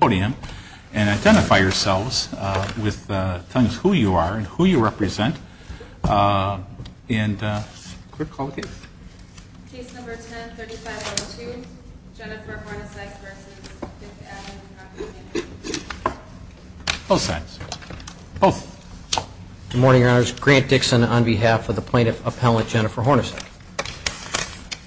podium and identify yourselves with telling us who you are and who you represent and quick call the case. Case number 10-3502, Jennifer Hornacek v. 5th Avenue Property Management. Both sides. Both. Good morning, your honors. Grant Dixon on behalf of the plaintiff appellate Jennifer Hornacek.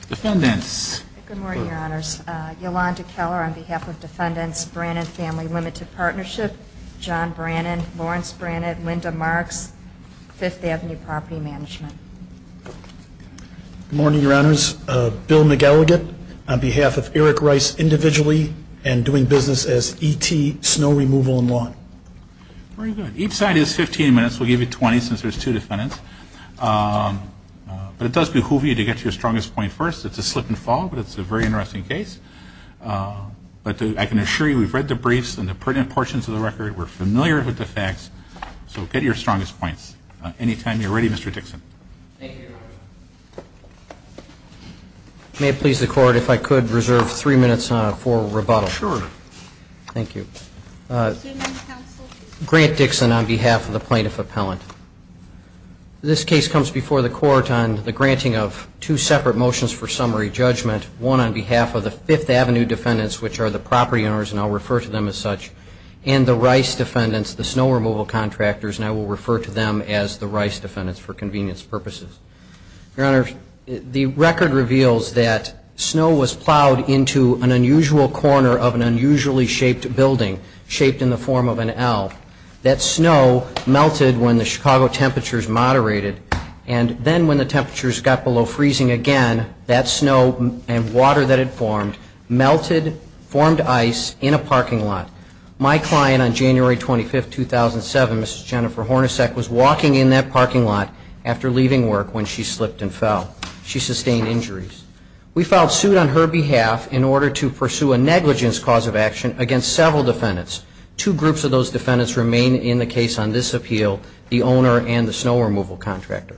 Defendants. Good morning, your honors. Yolanda Keller on behalf of defendants Brannan Family Limited Partnership, John Brannan, Lawrence Brannan, Linda Marks, 5th Avenue Property Management. Good morning, your honors. Bill McElligott on behalf of Eric Rice Individually and doing business as ET Snow Removal and Lawn. Very good. Each side is 15 minutes. We'll give you 20 since there's two defendants. But it does behoove you to get your strongest point first. It's a slip and fall, but it's a very interesting case. But I can assure you we've read the briefs and the pertinent portions of the record. We're familiar with the facts. So get your strongest points. Anytime you're ready, Mr. Dixon. Thank you, your honor. May it please the court if I could reserve three minutes for rebuttal. Sure. Thank you. Grant Dixon on behalf of the plaintiff appellant. This case comes before the court on the granting of two separate motions for summary judgment. One on behalf of the Fifth Avenue defendants, which are the property owners, and I'll refer to them as such, and the Rice defendants, the snow removal contractors, and I will refer to them as the Rice defendants for convenience purposes. Your honor, the record reveals that snow was plowed into an unusual corner of an unusually shaped building, shaped in the form of an L. That snow melted when the Chicago temperatures moderated, and then when the temperatures got below freezing again, that snow and water that had formed, melted, formed ice in a parking lot. My client on January 25th, 2007, Mrs. Jennifer Hornacek, was walking in that parking lot after leaving work when she slipped and fell. She sustained injuries. We filed suit on her behalf in order to pursue a negligence cause of action against several defendants. Two groups of those defendants remain in the case on this appeal, the owner and the snow removal contractor.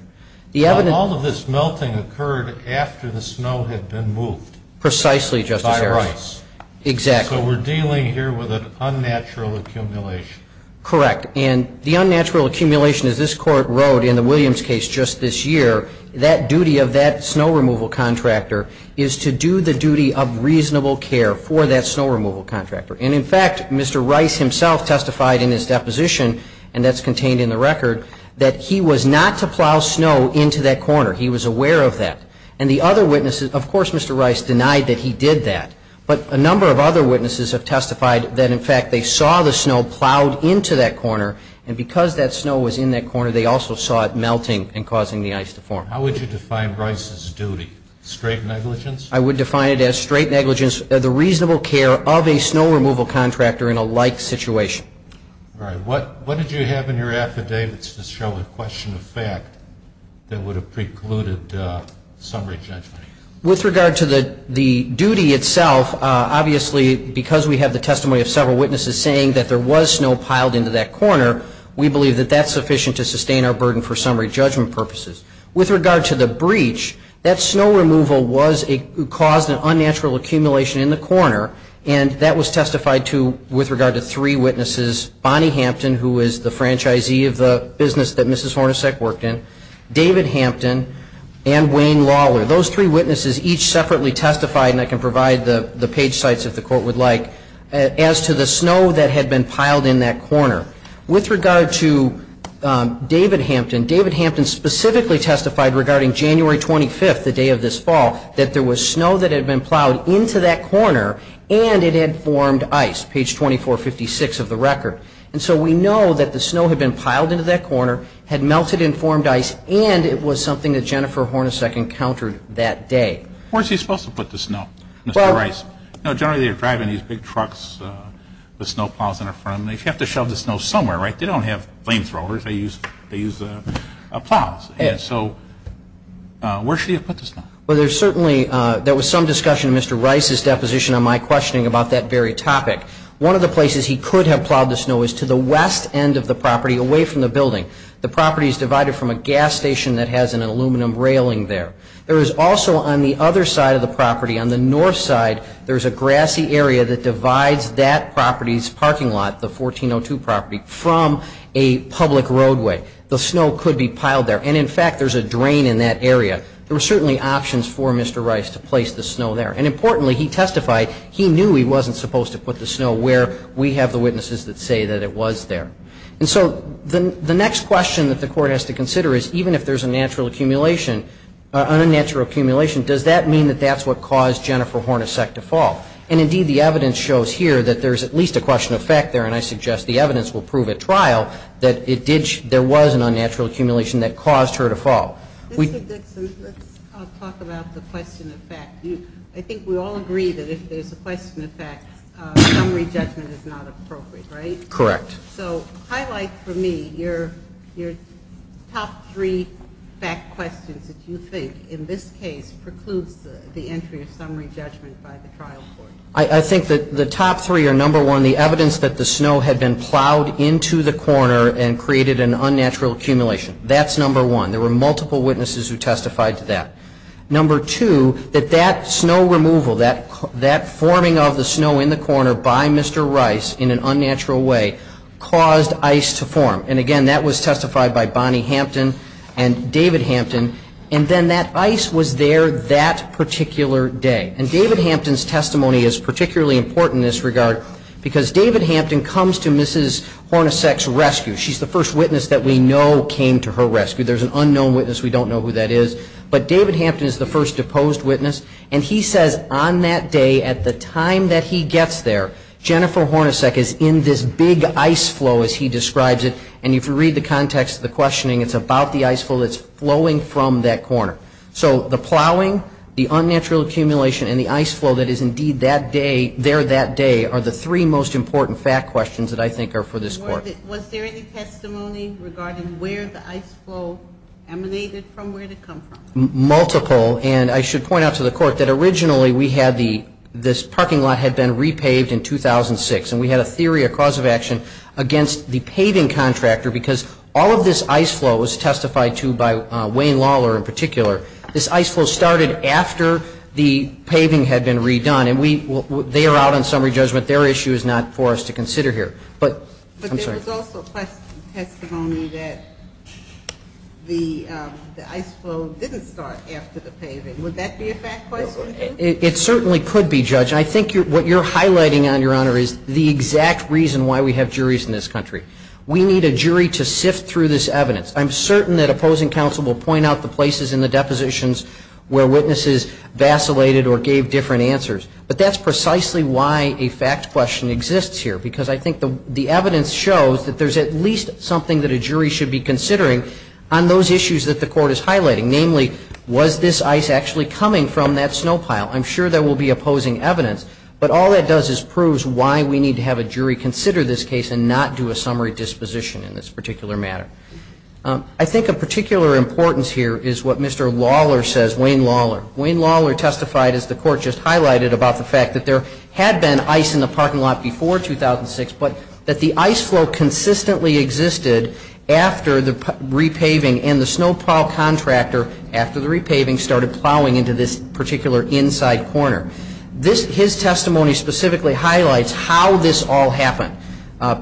All of this melting occurred after the snow had been moved. Precisely, Justice. By the Rice. Exactly. So we're dealing here with an unnatural accumulation. Correct. And the unnatural accumulation, as this Court wrote in the Williams case just this year, that duty of that snow removal contractor is to do the duty of reasonable care for that snow removal contractor. And in fact, Mr. Rice himself testified in his deposition, and that's contained in the record, that he was not to plow snow into that corner. He was aware of that. And the other witnesses, of course, Mr. Rice denied that he did that. But a number of other witnesses have testified that, in fact, they saw the snow plowed into that corner, and because that snow was in that corner, they also saw it melting and causing the ice to form. How would you define Rice's duty? Straight negligence? I would define it as straight negligence of the reasonable care of a snow removal contractor in a like situation. All right. What did you have in your affidavits to show a question of fact that would have precluded summary judgment? With regard to the duty itself, obviously, because we have the testimony of several witnesses saying that there was snow piled into that corner, we believe that that's sufficient to sustain our burden for summary judgment purposes. With regard to the breach, that snow removal caused an unnatural accumulation in the corner, and that was testified to with regard to three witnesses, Bonnie Hampton, who is the franchisee of the business that Mrs. Hornacek worked in, David Hampton, and Wayne Lawler. Those three witnesses each separately testified, and I can provide the page sites if the court would like, as to the snow that had been piled in that corner. With regard to David Hampton, David Hampton specifically testified regarding January 25th, the day of this fall, that there was snow that had been plowed into that corner, and it had formed ice, page 2456 of the record. And so we know that the snow had been piled into that corner, had melted and formed ice, and it was something that Jennifer Hornacek encountered that day. Where is she supposed to put the snow, Mr. Rice? Generally, they're driving these big trucks with snow plows in front of them. They have to shove the snow somewhere, right? They don't have flamethrowers. They use plows. So where should you put the snow? Well, there's certainly, there was some discussion in Mr. Rice's deposition on my questioning about that very topic. One of the places he could have plowed the snow is to the west end of the property, away from the building. The property is divided from a gas station that has an aluminum railing there. There is also, on the other side of the property, on the north side, there's a grassy area that divides that property's parking lot, the 1402 property, from a public roadway. The snow could be piled there, and in fact, there's a drain in that area. There were certainly options for Mr. Rice to place the snow there. And importantly, he testified, he knew he wasn't supposed to put the snow where we have the witnesses that say that it was there. And so the next question that the Court has to consider is, even if there's a natural accumulation, an unnatural accumulation, does that mean that that's what caused Jennifer Hornacek to fall? And indeed, the evidence shows here that there's at least a question of fact there, and I suggest the evidence will prove at trial that it did, there was an unnatural accumulation that caused her to fall. Ms. Dickson, let's talk about the question of fact. I think we all agree that if there's a question of fact, summary judgment is not appropriate, right? Correct. So highlight for me your top three fact questions that you think, in this case, precludes the entry of summary judgment by the trial court. I think that the top three are, number one, the evidence that the snow had been plowed into the corner and created an unnatural accumulation. That's number one. There were multiple witnesses who testified to that. Number two, that that snow removal, that forming of the snow in the corner by Mr. Rice in an unnatural way, caused ice to form. And again, that was testified by Bonnie Hampton and David Hampton. And then that ice was there that particular day. And David Hampton's testimony is particularly important in this regard because David Hampton comes to Mrs. Hornacek's rescue. She's the first witness that we know came to her rescue. There's an unknown witness. We don't know who that is. But David Hampton is the first deposed witness. And he says on that day, at the time that he gets there, Jennifer Hornacek is in this big ice flow as he describes it. And if you read the context of the questioning, it's about the ice flow that's flowing from that corner. So the plowing, the unnatural accumulation, and the ice flow that is indeed there that day are the three most important fact questions that I think are for this Court. Was there any testimony regarding where the ice flow emanated from? Where did it come from? Multiple. And I should point out to the Court that originally we had this parking lot had been repaved in 2006. And we had a theory, a cause of action against the paving contractor because all of this ice flow was testified to by Wayne Lawler in particular. This ice flow started after the paving had been redone. And they are out on summary judgment. Their issue is not for us to consider here. But I'm sorry. But there was also testimony that the ice flow didn't start after the paving. Would that be a fact question, too? It certainly could be, Judge. And I think what you're highlighting, Your Honor, is the exact reason why we have juries in this country. We need a jury to sift through this evidence. I'm certain that opposing counsel will point out the places in the depositions where witnesses vacillated or gave different answers. But that's precisely why a fact question exists here. Because I think the evidence shows that there's at least something that a jury should be considering on those issues that the Court is highlighting. Namely, was this ice actually coming from that snow pile? I'm sure there will be opposing evidence. But all that does is proves why we need to have a jury consider this case and not do a summary disposition in this particular matter. I think of particular importance here is what Mr. Lawler says, Wayne Lawler. Wayne Lawler testified, as the Court just highlighted, about the fact that there had been ice in the parking lot before 2006, but that the ice flow consistently existed after the repaving and the snow pile contractor, after the repaving, started plowing into this particular inside corner. His testimony specifically highlights how this all happened.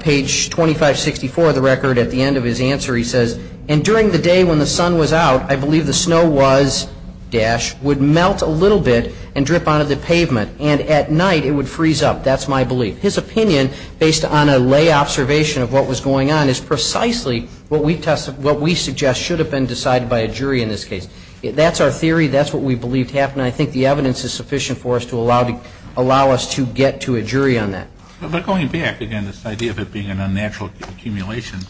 Page 2564 of the record, at the end of his answer, he says, And during the day when the sun was out, I believe the snow was, dash, would melt a little bit and drip out of the pavement. And at night it would freeze up. That's my belief. His opinion, based on a lay observation of what was going on, is precisely what we suggest should have been decided by a jury in this case. That's our theory. That's what we believed happened. And I think the evidence is sufficient for us to allow us to get to a jury on that. But going back, again, this idea of it being an unnatural accumulation,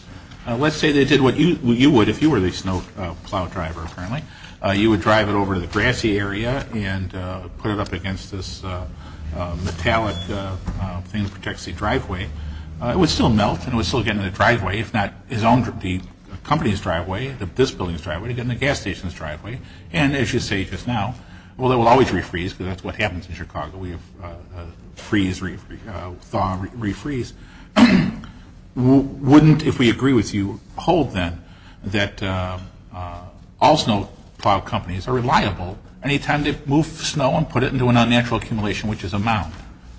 let's say they did what you would if you were the snow plow driver, apparently. You would drive it over to the grassy area and put it up against this metallic thing that protects the driveway. It would still melt and it would still get in the driveway, if not the company's driveway, this building's driveway, it would get in the gas station's driveway. And as you say just now, well, it will always refreeze, because that's what happens in Chicago. We have freeze, thaw, refreeze. Wouldn't, if we agree with you, hold then that all snow plow companies are reliable any time they move snow and put it into an unnatural accumulation, which is a mound?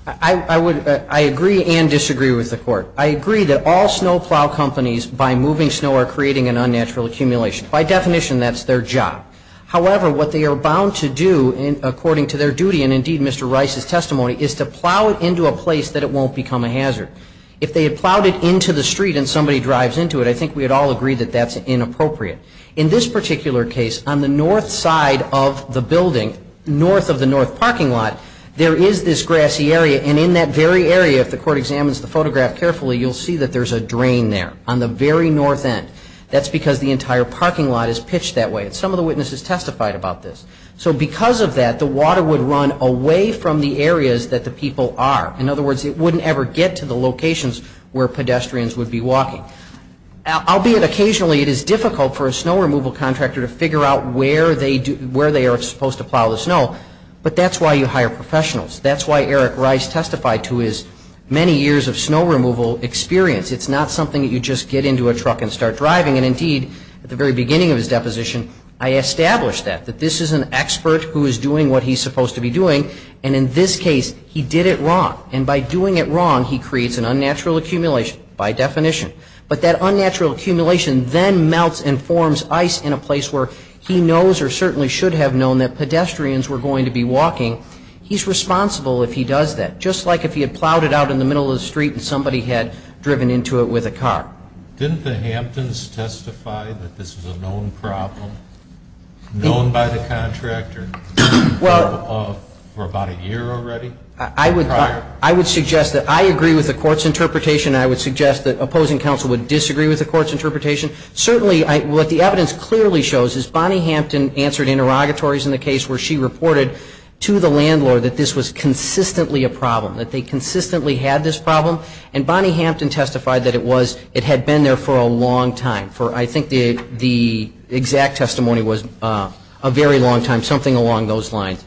I agree and disagree with the Court. I agree that all snow plow companies, by moving snow, are creating an unnatural accumulation. By definition, that's their job. However, what they are bound to do, according to their duty, and indeed Mr. Rice's testimony, is to plow it into a place that it won't become a hazard. If they plowed it into the street and somebody drives into it, I think we would all agree that that's inappropriate. In this particular case, on the north side of the building, north of the north parking lot, there is this grassy area, and in that very area, if the Court examines the photograph carefully, you'll see that there's a drain there, on the very north end. That's because the entire parking lot is pitched that way, and some of the witnesses testified about this. So because of that, the water would run away from the areas that the people are. In other words, it wouldn't ever get to the locations where pedestrians would be walking. Albeit occasionally, it is difficult for a snow removal contractor to figure out where they are supposed to plow the snow, but that's why you hire professionals. That's why Eric Rice testified to his many years of snow removal experience. It's not something that you just get into a truck and start driving, and indeed, at the very beginning of his deposition, I established that, that this is an expert who is doing what he's supposed to be doing, and in this case, he did it wrong. And by doing it wrong, he creates an unnatural accumulation, by definition. But that unnatural accumulation then melts and forms ice in a place where he knows or certainly should have known that pedestrians were going to be walking. He's responsible if he does that, just like if he had plowed it out in the middle of the street and somebody had driven into it with a car. Didn't the Hamptons testify that this was a known problem, for about a year already? I would suggest that I agree with the court's interpretation, and I would suggest that opposing counsel would disagree with the court's interpretation. Certainly, what the evidence clearly shows is Bonnie Hampton answered interrogatories in the case where she reported to the landlord that this was consistently a problem, that they consistently had this problem, and Bonnie Hampton testified that it had been there for a long time. I think the exact testimony was a very long time, something along those lines.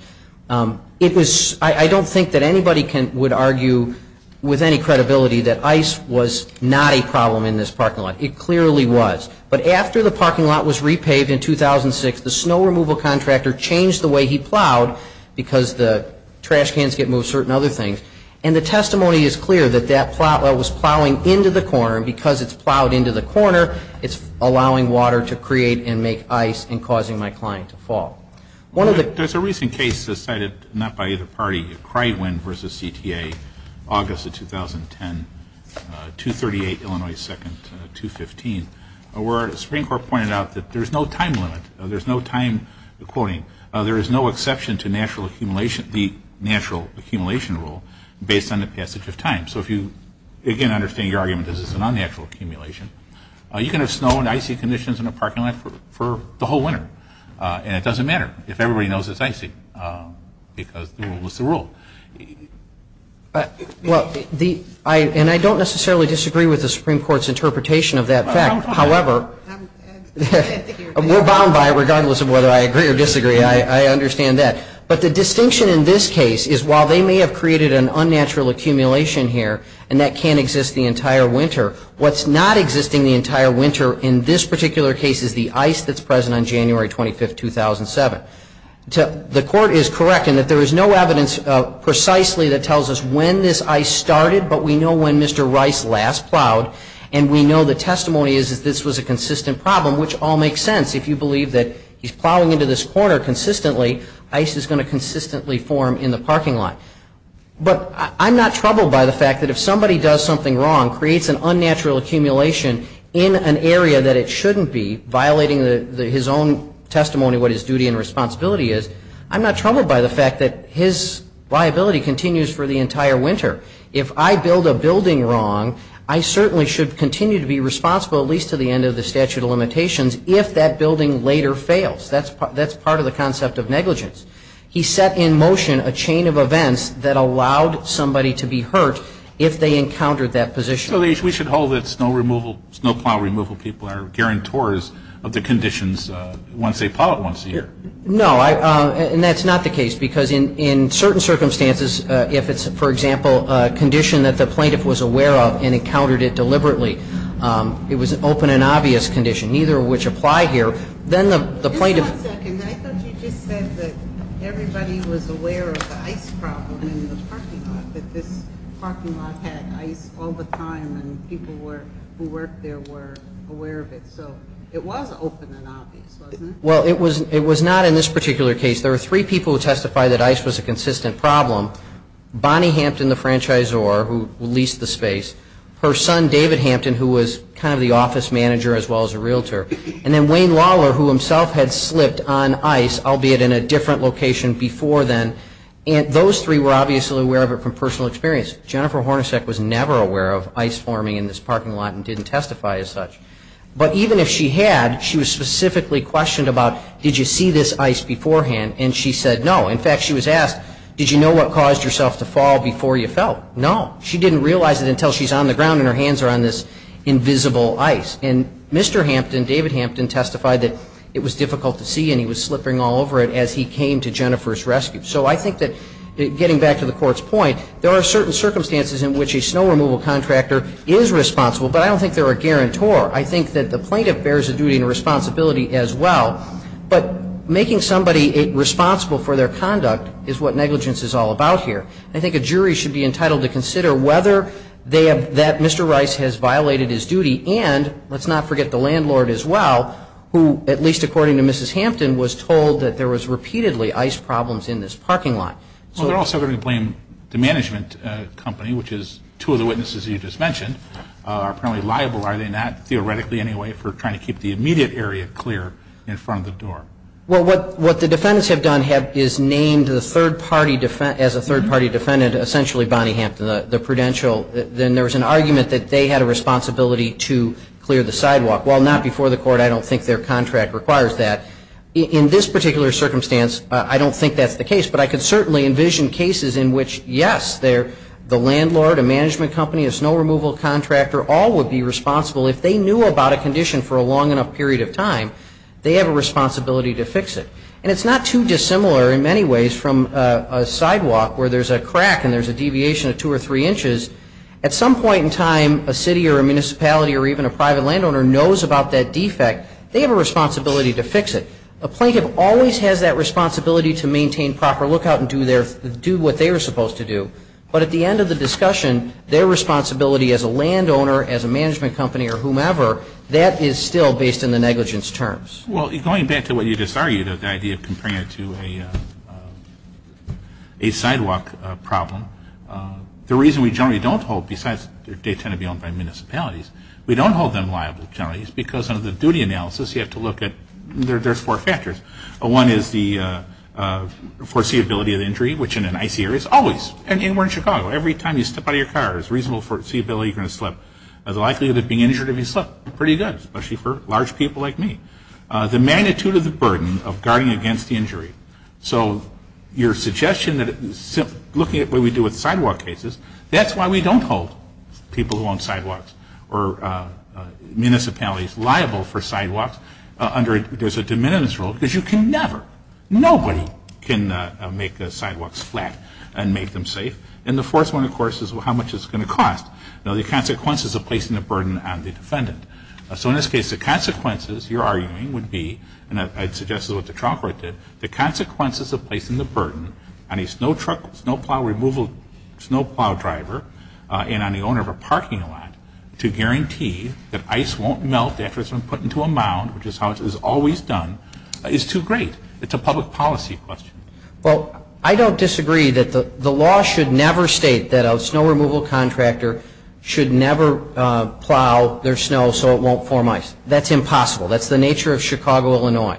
I don't think that anybody would argue with any credibility that ice was not a problem in this parking lot. It clearly was. But after the parking lot was repaved in 2006, the snow removal contractor changed the way he plowed because the trash cans get moved and certain other things. And the testimony is clear that that plow was plowing into the corner, and because it's plowed into the corner, it's allowing water to create and make ice and causing my client to fall. There's a recent case cited, not by either party, Crywin v. CTA, August of 2010, 238 Illinois 2nd, 215, where the Supreme Court pointed out that there's no time limit, there's no time quoting, there is no exception to the natural accumulation rule based on the passage of time. So if you, again, understand your argument that this is an unnatural accumulation, you can have snow and icy conditions in a parking lot for the whole winter, and it doesn't matter if everybody knows it's icy because the rule is the rule. Well, and I don't necessarily disagree with the Supreme Court's interpretation of that fact. However, we're bound by it regardless of whether I agree or disagree. I understand that. But the distinction in this case is while they may have created an unnatural accumulation here and that can't exist the entire winter, what's not existing the entire winter in this particular case is the ice that's present on January 25, 2007. The court is correct in that there is no evidence precisely that tells us when this ice started, but we know when Mr. Rice last plowed, and we know the testimony is that this was a consistent problem, which all makes sense. If you believe that he's plowing into this corner consistently, ice is going to consistently form in the parking lot. But I'm not troubled by the fact that if somebody does something wrong, creates an unnatural accumulation in an area that it shouldn't be, violating his own testimony of what his duty and responsibility is, I'm not troubled by the fact that his liability continues for the entire winter. If I build a building wrong, I certainly should continue to be responsible, at least to the end of the statute of limitations, if that building later fails. That's part of the concept of negligence. He set in motion a chain of events that allowed somebody to be hurt if they encountered that position. So we should hold that snow plow removal people are guarantors of the conditions once they plow it once a year. No, and that's not the case because in certain circumstances, if it's, for example, a condition that the plaintiff was aware of and encountered it deliberately, it was an open and obvious condition. Neither of which apply here. Then the plaintiff- Just one second. I thought you just said that everybody was aware of the ice problem in the parking lot, that this parking lot had ice all the time and people who worked there were aware of it. So it was open and obvious, wasn't it? Well, it was not in this particular case. There were three people who testified that ice was a consistent problem. Bonnie Hampton, the franchisor who leased the space. Her son, David Hampton, who was kind of the office manager as well as a realtor. And then Wayne Lawler, who himself had slipped on ice, albeit in a different location before then. And those three were obviously aware of it from personal experience. Jennifer Hornacek was never aware of ice forming in this parking lot and didn't testify as such. But even if she had, she was specifically questioned about, did you see this ice beforehand? And she said no. In fact, she was asked, did you know what caused yourself to fall before you fell? No. She didn't realize it until she's on the ground and her hands are on this invisible ice. And Mr. Hampton, David Hampton, testified that it was difficult to see and he was slipping all over it as he came to Jennifer's rescue. So I think that getting back to the Court's point, there are certain circumstances in which a snow removal contractor is responsible, but I don't think they're a guarantor. I think that the plaintiff bears a duty and a responsibility as well. But making somebody responsible for their conduct is what negligence is all about here. I think a jury should be entitled to consider whether they have, that Mr. Rice has violated his duty and let's not forget the landlord as well, who, at least according to Mrs. Hampton, was told that there was repeatedly ice problems in this parking lot. Well, they're also going to blame the management company, which is two of the witnesses you just mentioned, are apparently liable, are they not? Theoretically, anyway, for trying to keep the immediate area clear in front of the door. Well, what the defendants have done is named the third party, as a third party defendant, essentially Bonnie Hampton, the prudential. Then there was an argument that they had a responsibility to clear the sidewalk. Well, not before the Court. I don't think their contract requires that. In this particular circumstance, I don't think that's the case, but I can certainly envision cases in which, yes, the landlord, a management company, a snow removal contractor, all would be responsible if they knew about a condition for a long enough period of time. They have a responsibility to fix it. And it's not too dissimilar in many ways from a sidewalk where there's a crack and there's a deviation of two or three inches. At some point in time, a city or a municipality or even a private landowner knows about that defect. They have a responsibility to fix it. A plaintiff always has that responsibility to maintain proper lookout and do what they are supposed to do. But at the end of the discussion, their responsibility as a landowner, as a management company, or whomever, that is still based on the negligence terms. Well, going back to what you just argued, the idea of comparing it to a sidewalk problem, the reason we generally don't hold, besides they tend to be owned by municipalities, we don't hold them liable to municipalities because under the duty analysis you have to look at, there's four factors. One is the foreseeability of the injury, which in an icy area is always. And we're in Chicago. Every time you step out of your car, there's reasonable foreseeability you're going to slip. The likelihood of being injured if you slip, pretty good, especially for large people like me. The magnitude of the burden of guarding against the injury. So your suggestion that looking at what we do with sidewalk cases, that's why we don't hold people who own sidewalks or municipalities liable for sidewalks under, there's a de minimis rule because you can never, nobody can make the sidewalks flat and make them safe. And the fourth one, of course, is how much it's going to cost. You know, the consequences of placing the burden on the defendant. So in this case, the consequences, you're arguing, would be, and I'd suggest is what the trial court did, the consequences of placing the burden on a snow truck, snow plow removal, snow plow driver, and on the owner of a parking lot to guarantee that ice won't melt after it's been put into a mound, which is how it is always done, is too great. It's a public policy question. Well, I don't disagree that the law should never state that a snow removal contractor should never plow their snow so it won't form ice. That's impossible. That's the nature of Chicago, Illinois.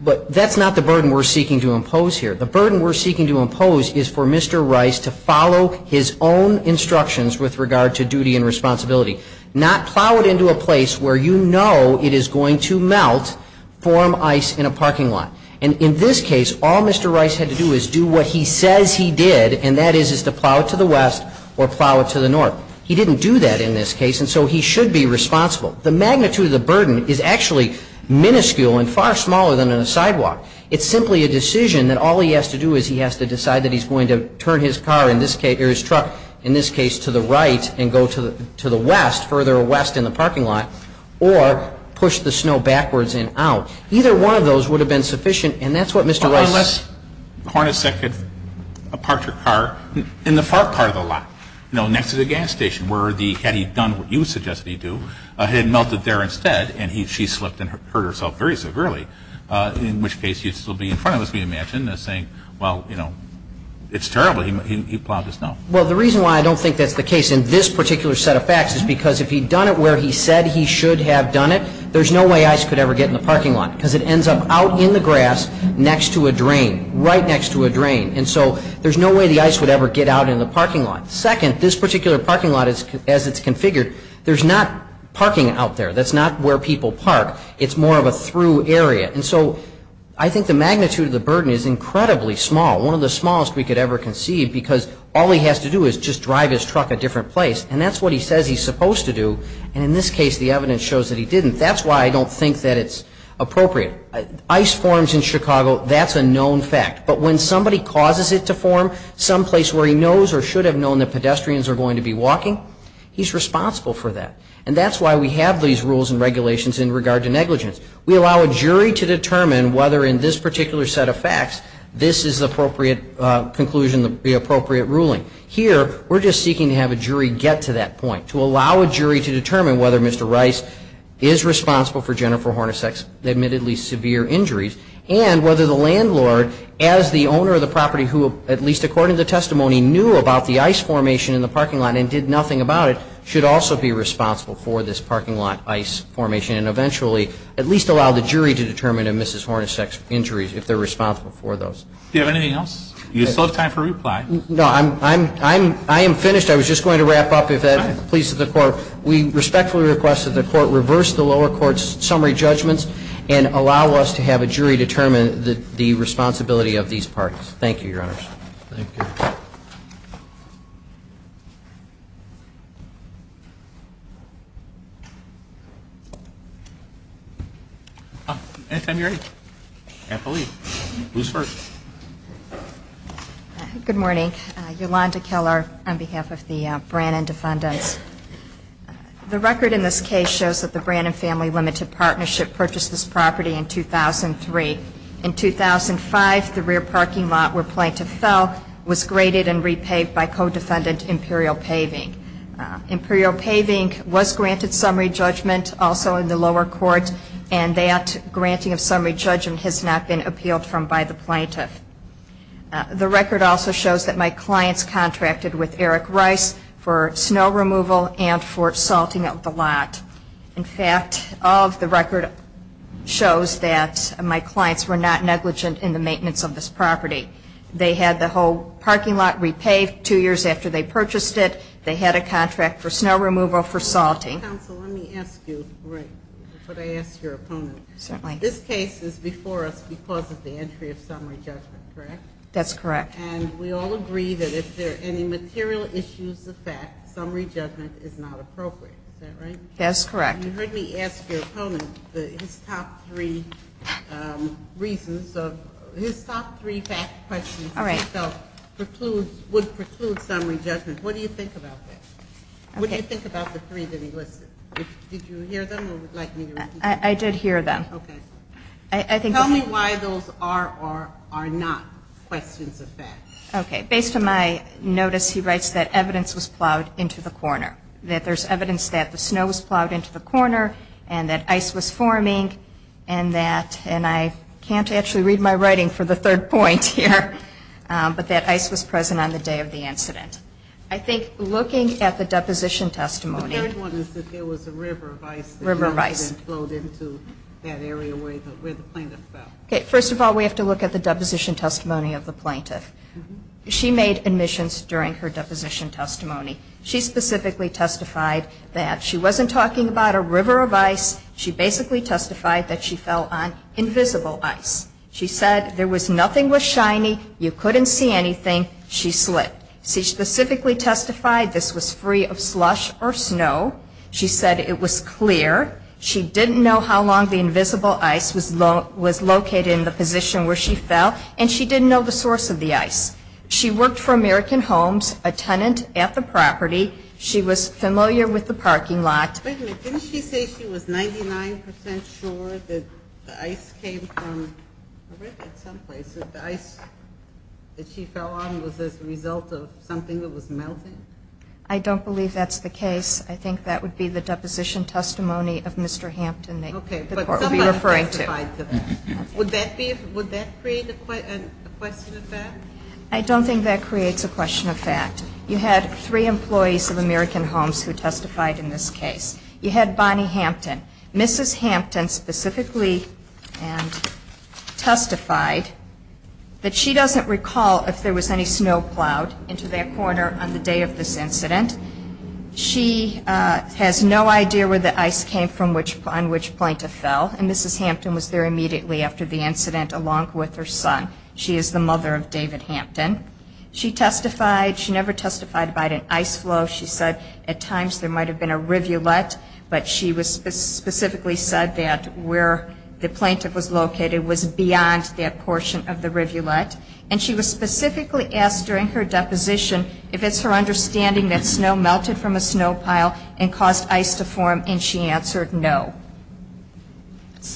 But that's not the burden we're seeking to impose here. The burden we're seeking to impose is for Mr. Rice to follow his own instructions with regard to duty and responsibility, not plow it into a place where you know it is going to melt, form ice in a parking lot. And in this case, all Mr. Rice had to do is do what he says he did, and that is to plow it to the west or plow it to the north. He didn't do that in this case, and so he should be responsible. The magnitude of the burden is actually minuscule and far smaller than in a sidewalk. It's simply a decision that all he has to do is he has to decide that he's going to turn his car in this case, or his truck in this case, to the right and go to the west, further west in the parking lot, or push the snow backwards and out. Either one of those would have been sufficient, and that's what Mr. Rice. Unless Hornacek had parked her car in the far part of the lot, you know, next to the gas station, had he done what you suggested he do, had it melted there instead, and she slipped and hurt herself very severely, in which case he'd still be in front of us, we imagine, saying, well, you know, it's terrible, he plowed the snow. Well, the reason why I don't think that's the case in this particular set of facts is because if he'd done it where he said he should have done it, there's no way ice could ever get in the parking lot, because it ends up out in the grass next to a drain, right next to a drain, and so there's no way the ice would ever get out in the parking lot. Second, this particular parking lot, as it's configured, there's not parking out there. That's not where people park. It's more of a through area, and so I think the magnitude of the burden is incredibly small, one of the smallest we could ever conceive, because all he has to do is just drive his truck a different place, and that's what he says he's supposed to do, and in this case, the evidence shows that he didn't. That's why I don't think that it's appropriate. Ice forms in Chicago, that's a known fact, but when somebody causes it to form someplace where he knows or should have known that pedestrians are going to be walking, he's responsible for that, and that's why we have these rules and regulations in regard to negligence. We allow a jury to determine whether in this particular set of facts this is the appropriate conclusion, the appropriate ruling. Here, we're just seeking to have a jury get to that point, to allow a jury to determine whether Mr. Rice is responsible for Jennifer Hornacek's admittedly severe injuries, and whether the landlord, as the owner of the property who, at least according to testimony, knew about the ice formation in the parking lot and did nothing about it, should also be responsible for this parking lot ice formation, and eventually at least allow the jury to determine if Mrs. Hornacek's injuries, if they're responsible for those. Do you have anything else? You still have time for reply. No. I am finished. I was just going to wrap up, if that pleases the Court. We respectfully request that the Court reverse the lower court's summary judgments and allow us to have a jury determine the responsibility of these parties. Thank you, Your Honors. Thank you. Anytime you're ready. I can't believe it. Who's first? Good morning. Yolanda Keller on behalf of the Brannon Defendants. The record in this case shows that the Brannon Family Limited Partnership purchased this property in 2003. In 2005, the rear parking lot where Plaintiff fell was graded and repaved by co-defendant Imperial Paving. Imperial Paving was granted summary judgment also in the lower court, and that granting of summary judgment has not been appealed from by the plaintiff. The record also shows that my clients contracted with Eric Rice for snow removal and for salting of the lot. In fact, all of the record shows that my clients were not negligent in the maintenance of this property. They had the whole parking lot repaved two years after they purchased it. They had a contract for snow removal for salting. Counsel, let me ask you before I ask your opponent. Certainly. This case is before us because of the entry of summary judgment, correct? That's correct. And we all agree that if there are any material issues of fact, summary judgment is not appropriate. Is that right? That's correct. You heard me ask your opponent his top three reasons. His top three questions he felt would preclude summary judgment. What do you think about that? What do you think about the three that he listed? Did you hear them or would you like me to repeat them? I did hear them. Okay. Tell me why those are or are not questions of fact. Okay. Based on my notice, he writes that evidence was plowed into the corner, that there's evidence that the snow was plowed into the corner and that ice was forming and that, and I can't actually read my writing for the third point here, but that ice was present on the day of the incident. I think looking at the deposition testimony. The third one is that there was a river of ice. River of ice. That flowed into that area where the plaintiff fell. Okay. First of all, we have to look at the deposition testimony of the plaintiff. She made admissions during her deposition testimony. She specifically testified that she wasn't talking about a river of ice. She basically testified that she fell on invisible ice. She said there was nothing was shiny. You couldn't see anything. She slipped. She specifically testified this was free of slush or snow. She said it was clear. She didn't know how long the invisible ice was located in the position where she fell, and she didn't know the source of the ice. She worked for American Homes, a tenant at the property. She was familiar with the parking lot. Wait a minute. Didn't she say she was 99% sure that the ice came from, I read that someplace, that the ice that she fell on was as a result of something that was melting? I don't believe that's the case. I think that would be the deposition testimony of Mr. Hampton. Okay, but somebody testified to that. Would that create a question of fact? I don't think that creates a question of fact. You had three employees of American Homes who testified in this case. You had Bonnie Hampton. Mrs. Hampton specifically testified that she doesn't recall if there was any snow plowed into that corner on the day of this incident. She has no idea where the ice came from, on which point it fell, and Mrs. Hampton was there immediately after the incident along with her son. She is the mother of David Hampton. She testified. She never testified about an ice flow. She said at times there might have been a rivulet, but she specifically said that where the plaintiff was located was beyond that portion of the rivulet. And she was specifically asked during her deposition if it's her understanding that snow melted from a snow pile and caused ice to form, and she answered no.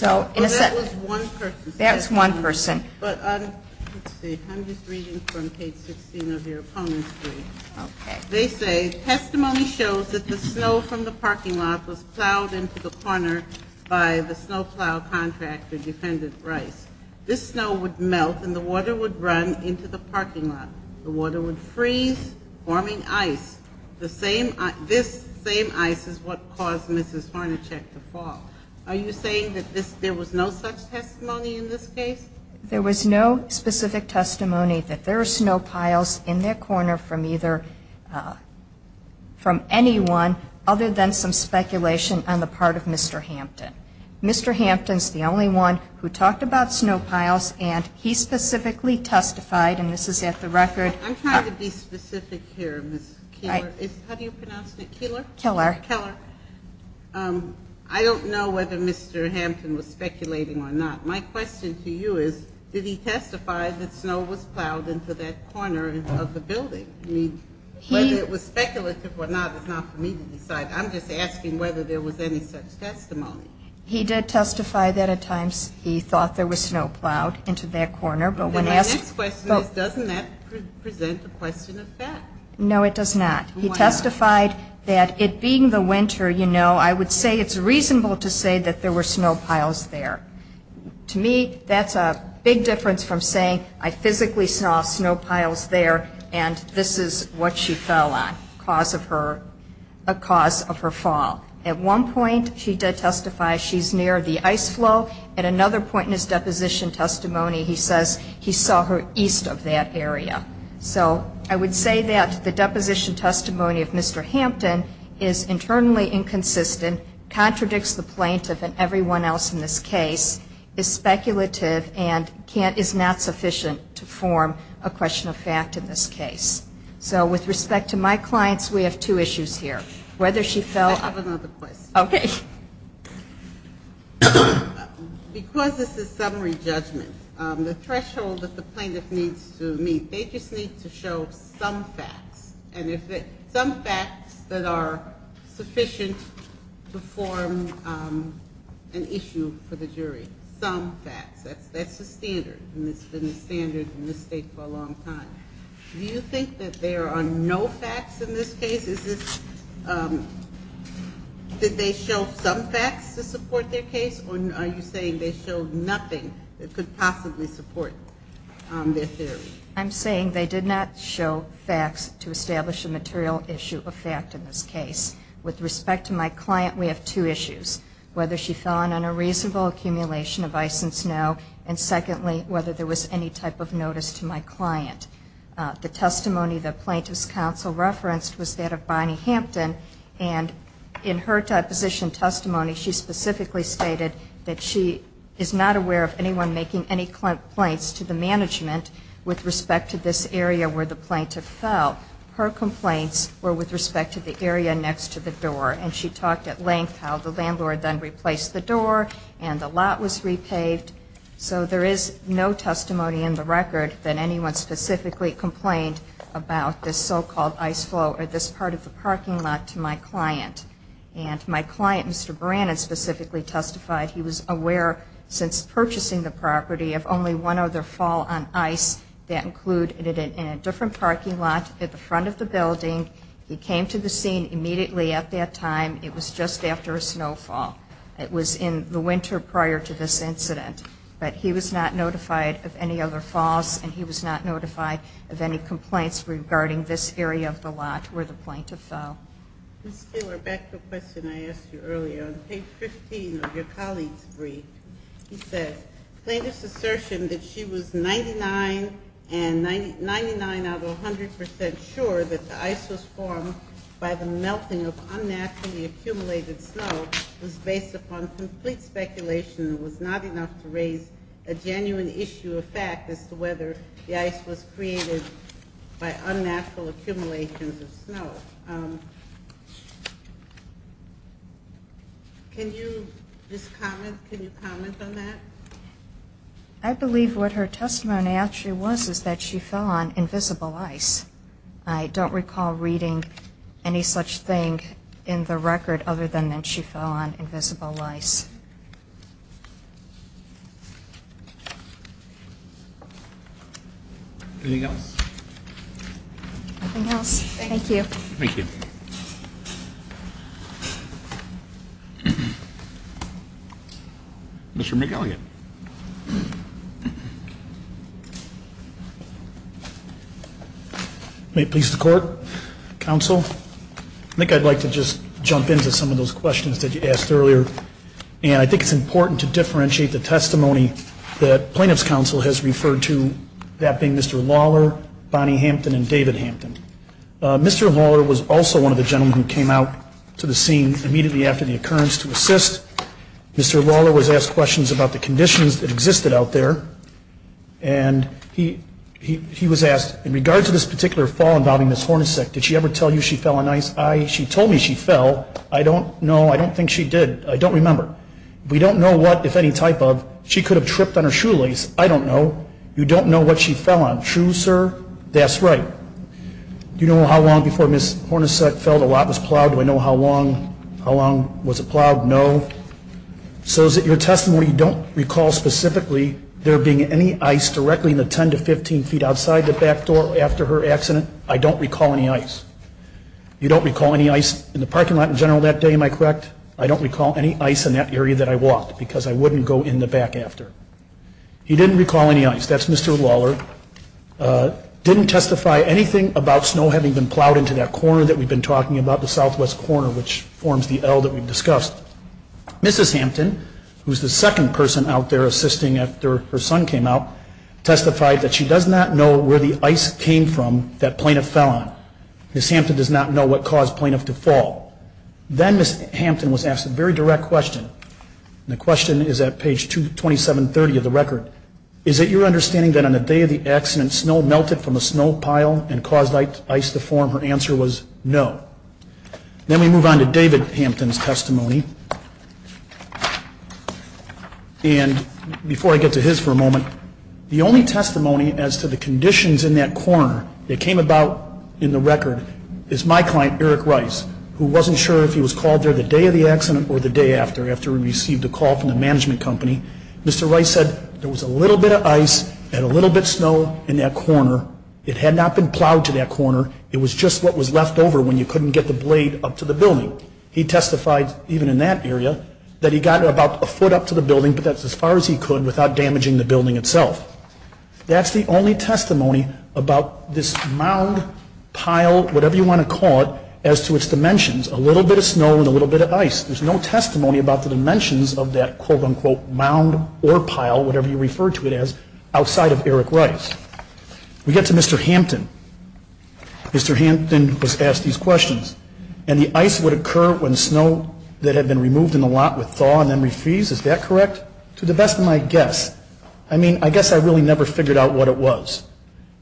Well, that was one person. That was one person. But let's see, I'm just reading from page 16 of your opponent's brief. Okay. They say testimony shows that the snow from the parking lot was plowed into the corner by the snow plow contractor, Defendant Rice. This snow would melt and the water would run into the parking lot. The water would freeze, forming ice. This same ice is what caused Mrs. Harnacek to fall. Are you saying that there was no such testimony in this case? There was no specific testimony that there were snow piles in their corner from either from anyone other than some speculation on the part of Mr. Hampton. Mr. Hampton is the only one who talked about snow piles, and he specifically testified, and this is at the record. I'm trying to be specific here, Ms. Keillor. How do you pronounce it? Keillor. Keillor. I don't know whether Mr. Hampton was speculating or not. My question to you is, did he testify that snow was plowed into that corner of the building? Whether it was speculative or not is not for me to decide. I'm just asking whether there was any such testimony. He did testify that at times he thought there was snow plowed into that corner. But my next question is, doesn't that present a question of fact? No, it does not. He testified that it being the winter, you know, I would say it's reasonable to say that there were snow piles there. To me, that's a big difference from saying I physically saw snow piles there and this is what she fell on, a cause of her fall. At one point, she did testify she's near the ice flow. At another point in his deposition testimony, he says he saw her east of that area. So I would say that the deposition testimony of Mr. Hampton is internally inconsistent, contradicts the plaintiff and everyone else in this case, is speculative and is not sufficient to form a question of fact in this case. So with respect to my clients, we have two issues here. I have another question. Okay. Because this is summary judgment, the threshold that the plaintiff needs to meet, they just need to show some facts. Some facts that are sufficient to form an issue for the jury. Some facts. That's the standard and it's been the standard in this state for a long time. Do you think that there are no facts in this case? Did they show some facts to support their case or are you saying they showed nothing that could possibly support their theory? I'm saying they did not show facts to establish a material issue of fact in this case. With respect to my client, we have two issues. Whether she fell in on a reasonable accumulation of ice and snow and secondly, whether there was any type of notice to my client. The testimony the plaintiff's counsel referenced was that of Bonnie Hampton and in her deposition testimony, she specifically stated that she is not aware of anyone making any complaints to the management with respect to this area where the plaintiff fell. Her complaints were with respect to the area next to the door and she talked at length how the landlord then replaced the door and the lot was repaved. So there is no testimony in the record that anyone specifically complained about this so-called ice flow or this part of the parking lot to my client. My client, Mr. Brannon, specifically testified he was aware since purchasing the property of only one other fall on ice that included in a different parking lot at the front of the building. He came to the scene immediately at that time. It was just after a snowfall. It was in the winter prior to this incident. But he was not notified of any other falls and he was not notified of any complaints regarding this area of the lot where the plaintiff fell. Ms. Taylor, back to the question I asked you earlier. On page 15 of your colleague's brief, he says, plaintiff's assertion that she was 99 out of 100 percent sure that the ice was formed by the melting of unnaturally accumulated snow was based upon complete speculation and was not enough to raise a genuine issue of fact as to whether the ice was created by unnatural accumulations of snow. Can you just comment? Can you comment on that? I believe what her testimony actually was is that she fell on invisible ice. I don't recall reading any such thing in the record other than that she fell on invisible ice. Anything else? Nothing else. Thank you. Thank you. Mr. McElligott. May it please the Court, Counsel, I think I'd like to just jump into some of those questions that you asked earlier. And I think it's important to differentiate the testimony that Plaintiff's Counsel has referred to, that being Mr. Lawler, Bonnie Hampton, and David Hampton. Mr. Lawler was also one of the gentlemen who came out to the scene immediately after the occurrence to assist. Mr. Lawler was asked questions about the conditions that existed out there. And he was asked, in regards to this particular fall involving Ms. Hornacek, did she ever tell you she fell on ice? She told me she fell. I don't know. I don't remember. We don't know what, if any type of. She could have tripped on her shoelace. I don't know. You don't know what she fell on. True, sir? That's right. Do you know how long before Ms. Hornacek fell, the lot was plowed? Do I know how long was it plowed? No. So is it your testimony you don't recall specifically there being any ice directly in the 10 to 15 feet outside the back door after her accident? I don't recall any ice. You don't recall any ice in the parking lot in general that day, am I correct? I don't recall any ice in that area that I walked because I wouldn't go in the back after. You didn't recall any ice. That's Mr. Lawler. Didn't testify anything about snow having been plowed into that corner that we've been talking about, the southwest corner, which forms the L that we've discussed. Mrs. Hampton, who's the second person out there assisting after her son came out, testified that she does not know where the ice came from that plaintiff fell on. Ms. Hampton does not know what caused plaintiff to fall. Then Ms. Hampton was asked a very direct question, and the question is at page 22730 of the record. Is it your understanding that on the day of the accident, snow melted from a snow pile and caused ice to form? Her answer was no. Then we move on to David Hampton's testimony. And before I get to his for a moment, the only testimony as to the conditions in that corner that came about in the record is my client, Eric Rice, who wasn't sure if he was called there the day of the accident or the day after, after he received a call from the management company. Mr. Rice said there was a little bit of ice and a little bit of snow in that corner. It had not been plowed to that corner. It was just what was left over when you couldn't get the blade up to the building. He testified even in that area that he got about a foot up to the building, but that's as far as he could without damaging the building itself. That's the only testimony about this mound, pile, whatever you want to call it, as to its dimensions, a little bit of snow and a little bit of ice. There's no testimony about the dimensions of that, quote-unquote, mound or pile, whatever you refer to it as, outside of Eric Rice. We get to Mr. Hampton. Mr. Hampton was asked these questions. And the ice would occur when snow that had been removed in the lot would thaw and then refreeze, is that correct? To the best of my guess. I mean, I guess I really never figured out what it was.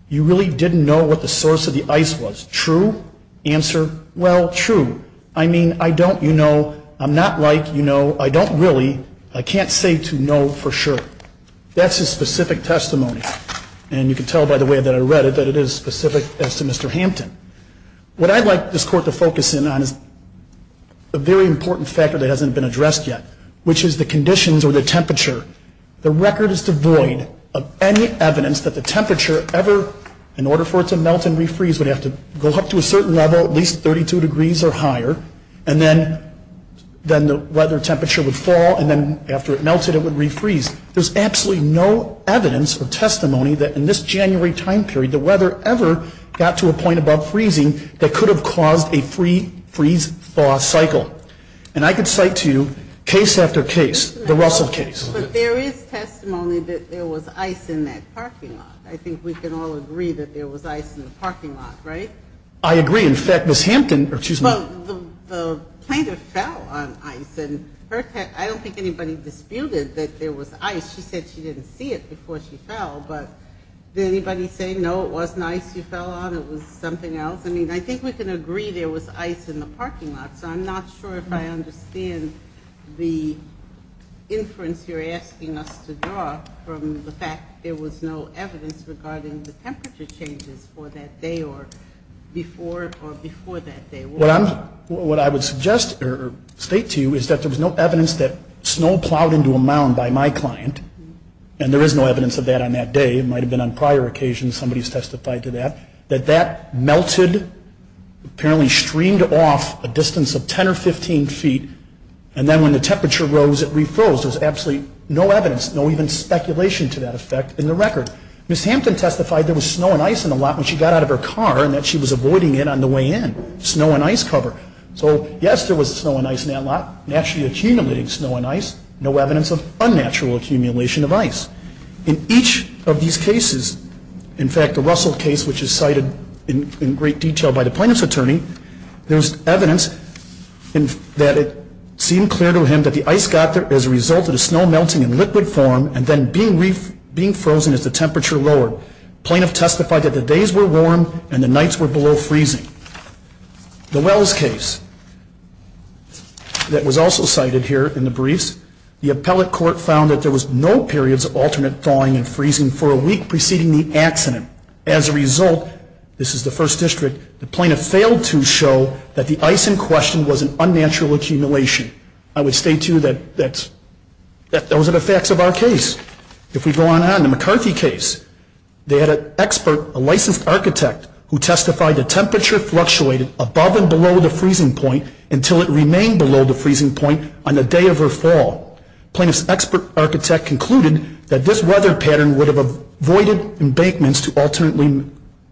You really didn't know what the source of the ice was. True? Answer? Well, true. I mean, I don't, you know, I'm not like, you know, I don't really, I can't say to know for sure. That's his specific testimony. And you can tell by the way that I read it that it is specific as to Mr. Hampton. What I'd like this Court to focus in on is a very important factor that hasn't been addressed yet, which is the conditions or the temperature. The record is devoid of any evidence that the temperature ever, in order for it to melt and refreeze, would have to go up to a certain level, at least 32 degrees or higher, and then the weather temperature would fall, and then after it melted it would refreeze. There's absolutely no evidence or testimony that in this January time period, the weather ever got to a point above freezing that could have caused a freeze-thaw cycle. And I could cite to you case after case, the Russell case. But there is testimony that there was ice in that parking lot. I think we can all agree that there was ice in the parking lot, right? I agree. In fact, Ms. Hampton, or excuse me. Well, the planter fell on ice, and I don't think anybody disputed that there was ice. She said she didn't see it before she fell. But did anybody say, no, it wasn't ice you fell on, it was something else? I mean, I think we can agree there was ice in the parking lot, so I'm not sure if I understand the inference you're asking us to draw from the fact there was no evidence regarding the temperature changes for that day or before that day. What I would state to you is that there was no evidence that snow plowed into a mound by my client, and there is no evidence of that on that day. It might have been on prior occasions somebody's testified to that, that that melted, apparently streamed off a distance of 10 or 15 feet, and then when the temperature rose it refroze. There's absolutely no evidence, no even speculation to that effect in the record. Ms. Hampton testified there was snow and ice in the lot when she got out of her car and that she was avoiding it on the way in, snow and ice cover. So, yes, there was snow and ice in that lot, naturally accumulating snow and ice, no evidence of unnatural accumulation of ice. In each of these cases, in fact, the Russell case, which is cited in great detail by the plaintiff's attorney, there's evidence that it seemed clear to him that the ice got there as a result of the snow melting in liquid form and then being frozen as the temperature lowered. The plaintiff testified that the days were warm and the nights were below freezing. The Wells case that was also cited here in the briefs, the appellate court found that there was no periods of alternate thawing and freezing for a week preceding the accident. As a result, this is the First District, the plaintiff failed to show that the ice in question was an unnatural accumulation. I would state, too, that those are the facts of our case. If we go on to the McCarthy case, they had an expert, a licensed architect, who testified the temperature fluctuated above and below the freezing point until it remained below the freezing point on the day of her fall. Plaintiff's expert architect concluded that this weather pattern would have avoided embankments to alternately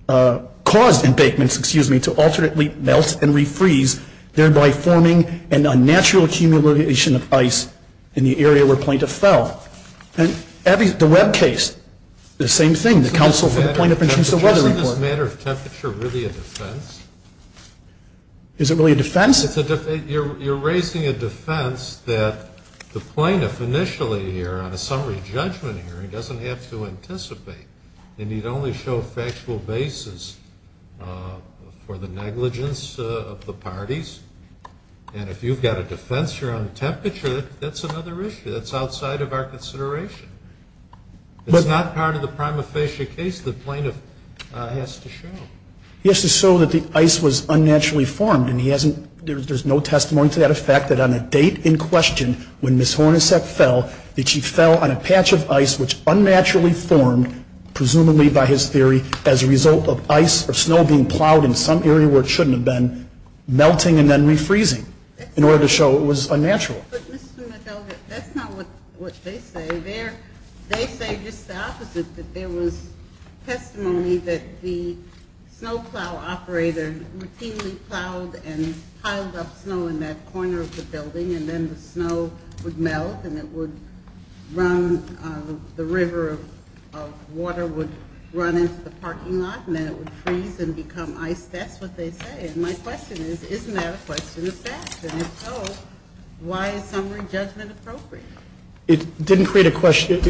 cause embankments, excuse me, to alternately melt and refreeze, thereby forming an unnatural accumulation of ice in the area where plaintiff fell. And the Webb case, the same thing, the counsel for the plaintiff in terms of weather report. Is this matter of temperature really a defense? Is it really a defense? You're raising a defense that the plaintiff initially here on a summary judgment hearing doesn't have to anticipate. They need only show factual basis for the negligence of the parties. And if you've got a defense here on temperature, that's another issue. That's outside of our consideration. It's not part of the prima facie case. The plaintiff has to show. He has to show that the ice was unnaturally formed. And he hasn't ‑‑ there's no testimony to that effect that on a date in question when Ms. Hornacek fell, that she fell on a patch of ice which unnaturally formed, presumably by his theory, as a result of ice or snow being plowed in some area where it shouldn't have been, melting and then refreezing in order to show it was unnatural. But, Mr. Madoga, that's not what they say. They say just the opposite, that there was testimony that the snow plow operator routinely plowed and piled up snow in that corner of the building and then the snow would melt and it would run, the river of water would run into the parking lot and then it would freeze and become ice. That's what they say. And my question is, isn't that a question of fact? And if so, why is summary judgment appropriate? It didn't create a question.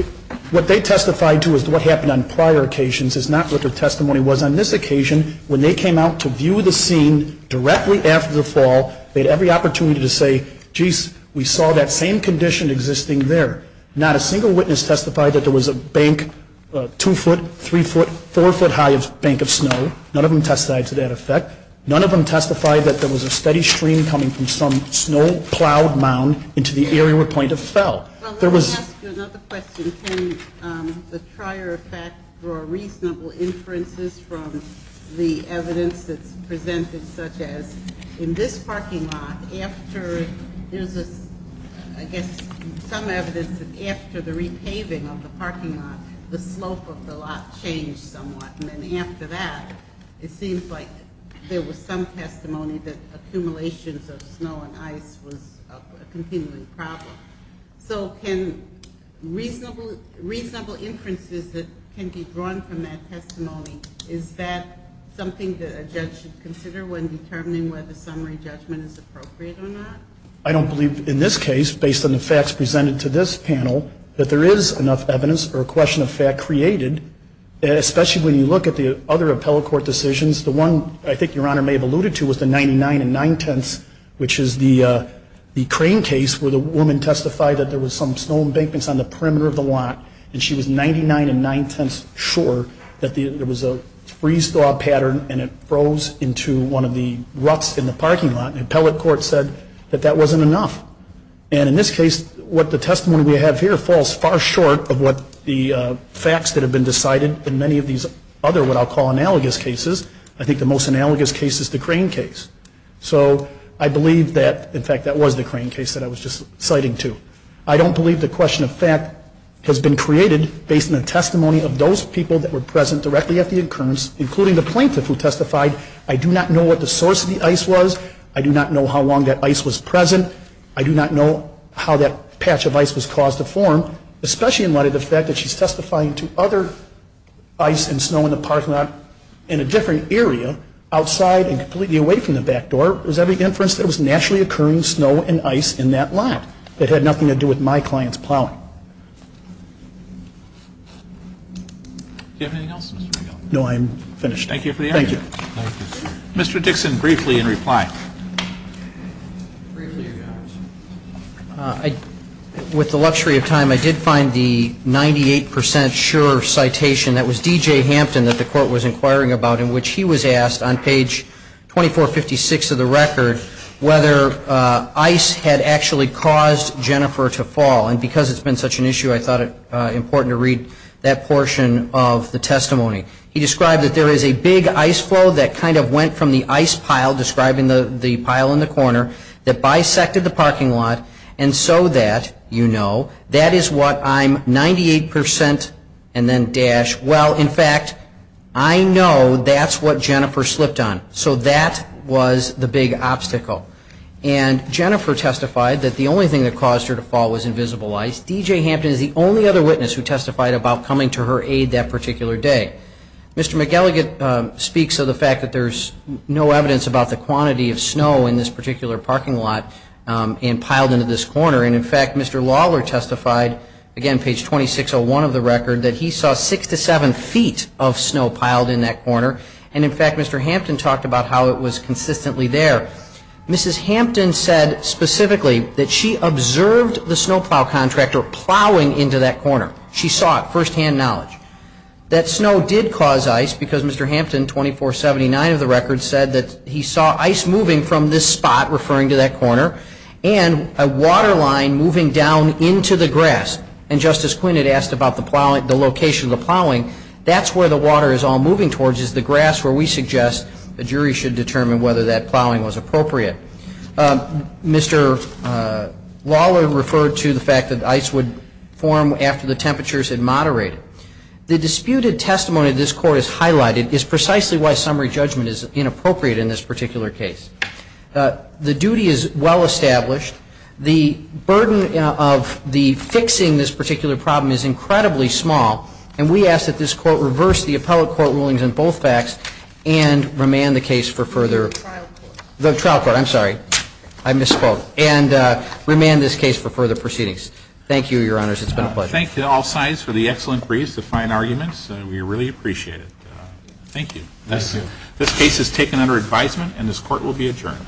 What they testified to is what happened on prior occasions is not what their testimony was on this occasion. When they came out to view the scene directly after the fall, they had every opportunity to say, geez, we saw that same condition existing there. Not a single witness testified that there was a bank, a two‑foot, three‑foot, four‑foot high bank of snow. None of them testified to that effect. None of them testified that there was a steady stream coming from some snow plowed mound into the area where plaintiff fell. Let me ask you another question. Can the trier of fact draw reasonable inferences from the evidence that's presented, such as in this parking lot, after, there's a, I guess, some evidence that after the repaving of the parking lot, the slope of the lot changed somewhat. And then after that, it seems like there was some testimony that accumulations of snow and ice was a continuing problem. So can reasonable inferences that can be drawn from that testimony, is that something that a judge should consider when determining whether summary judgment is appropriate or not? I don't believe in this case, based on the facts presented to this panel, that there is enough evidence or a question of fact created, especially when you look at the other appellate court decisions. The one I think Your Honor may have alluded to was the 99 and 9 tenths, which is the crane case where the woman testified that there was some snow embankments on the perimeter of the lot, and she was 99 and 9 tenths sure that there was a freeze-thaw pattern and it froze into one of the ruts in the parking lot. And appellate court said that that wasn't enough. And in this case, what the testimony we have here falls far short of what the facts that have been decided in many of these other what I'll call analogous cases. I think the most analogous case is the crane case. So I believe that, in fact, that was the crane case that I was just citing too. I don't believe the question of fact has been created based on the testimony of those people that were present directly at the occurrence, including the plaintiff who testified, I do not know what the source of the ice was, I do not know how long that ice was present, I do not know how that patch of ice was caused to form, especially in light of the fact that she's testifying to other ice and snow in the parking lot in a different area, outside and completely away from the back door, does that make inference that it was naturally occurring snow and ice in that lot? It had nothing to do with my client's plowing. Do you have anything else, Mr. McGill? No, I'm finished. Thank you for the interview. Thank you. Mr. Dixon, briefly, in reply. With the luxury of time, I did find the 98% sure citation, that was D.J. Hampton that the court was inquiring about, in which he was asked on page 2456 of the record whether ice had actually caused Jennifer to fall. And because it's been such an issue, I thought it important to read that portion of the testimony. He described that there is a big ice flow that kind of went from the ice pile describing the pile in the corner that bisected the parking lot, and so that, you know, that is what I'm 98% and then dash. Well, in fact, I know that's what Jennifer slipped on. So that was the big obstacle. And Jennifer testified that the only thing that caused her to fall was invisible ice. D.J. Hampton is the only other witness who testified about coming to her aid that particular day. Mr. McElligott speaks of the fact that there's no evidence about the quantity of snow in this particular parking lot and piled into this corner. And, in fact, Mr. Lawler testified, again, page 2601 of the record, that he saw six to seven feet of snow piled in that corner. And, in fact, Mr. Hampton talked about how it was consistently there. Mrs. Hampton said specifically that she observed the snowplow contractor plowing into that corner. She saw it, firsthand knowledge. That snow did cause ice because Mr. Hampton, 2479 of the record, said that he saw ice moving from this spot, referring to that corner, and a water line moving down into the grass. And Justice Quinn had asked about the location of the plowing. That's where the water is all moving towards is the grass where we suggest the jury should determine whether that plowing was appropriate. Mr. Lawler referred to the fact that ice would form after the temperatures had moderated. The disputed testimony this Court has highlighted is precisely why summary judgment is inappropriate in this particular case. The duty is well established. The burden of the fixing this particular problem is incredibly small. And we ask that this Court reverse the appellate court rulings on both facts and remand the case for further ---- The trial court. The trial court. I'm sorry. I misspoke. And remand this case for further proceedings. Thank you, Your Honors. It's been a pleasure. I thank you all sides for the excellent briefs, the fine arguments. We really appreciate it. Thank you. This case is taken under advisement and this Court will be adjourned.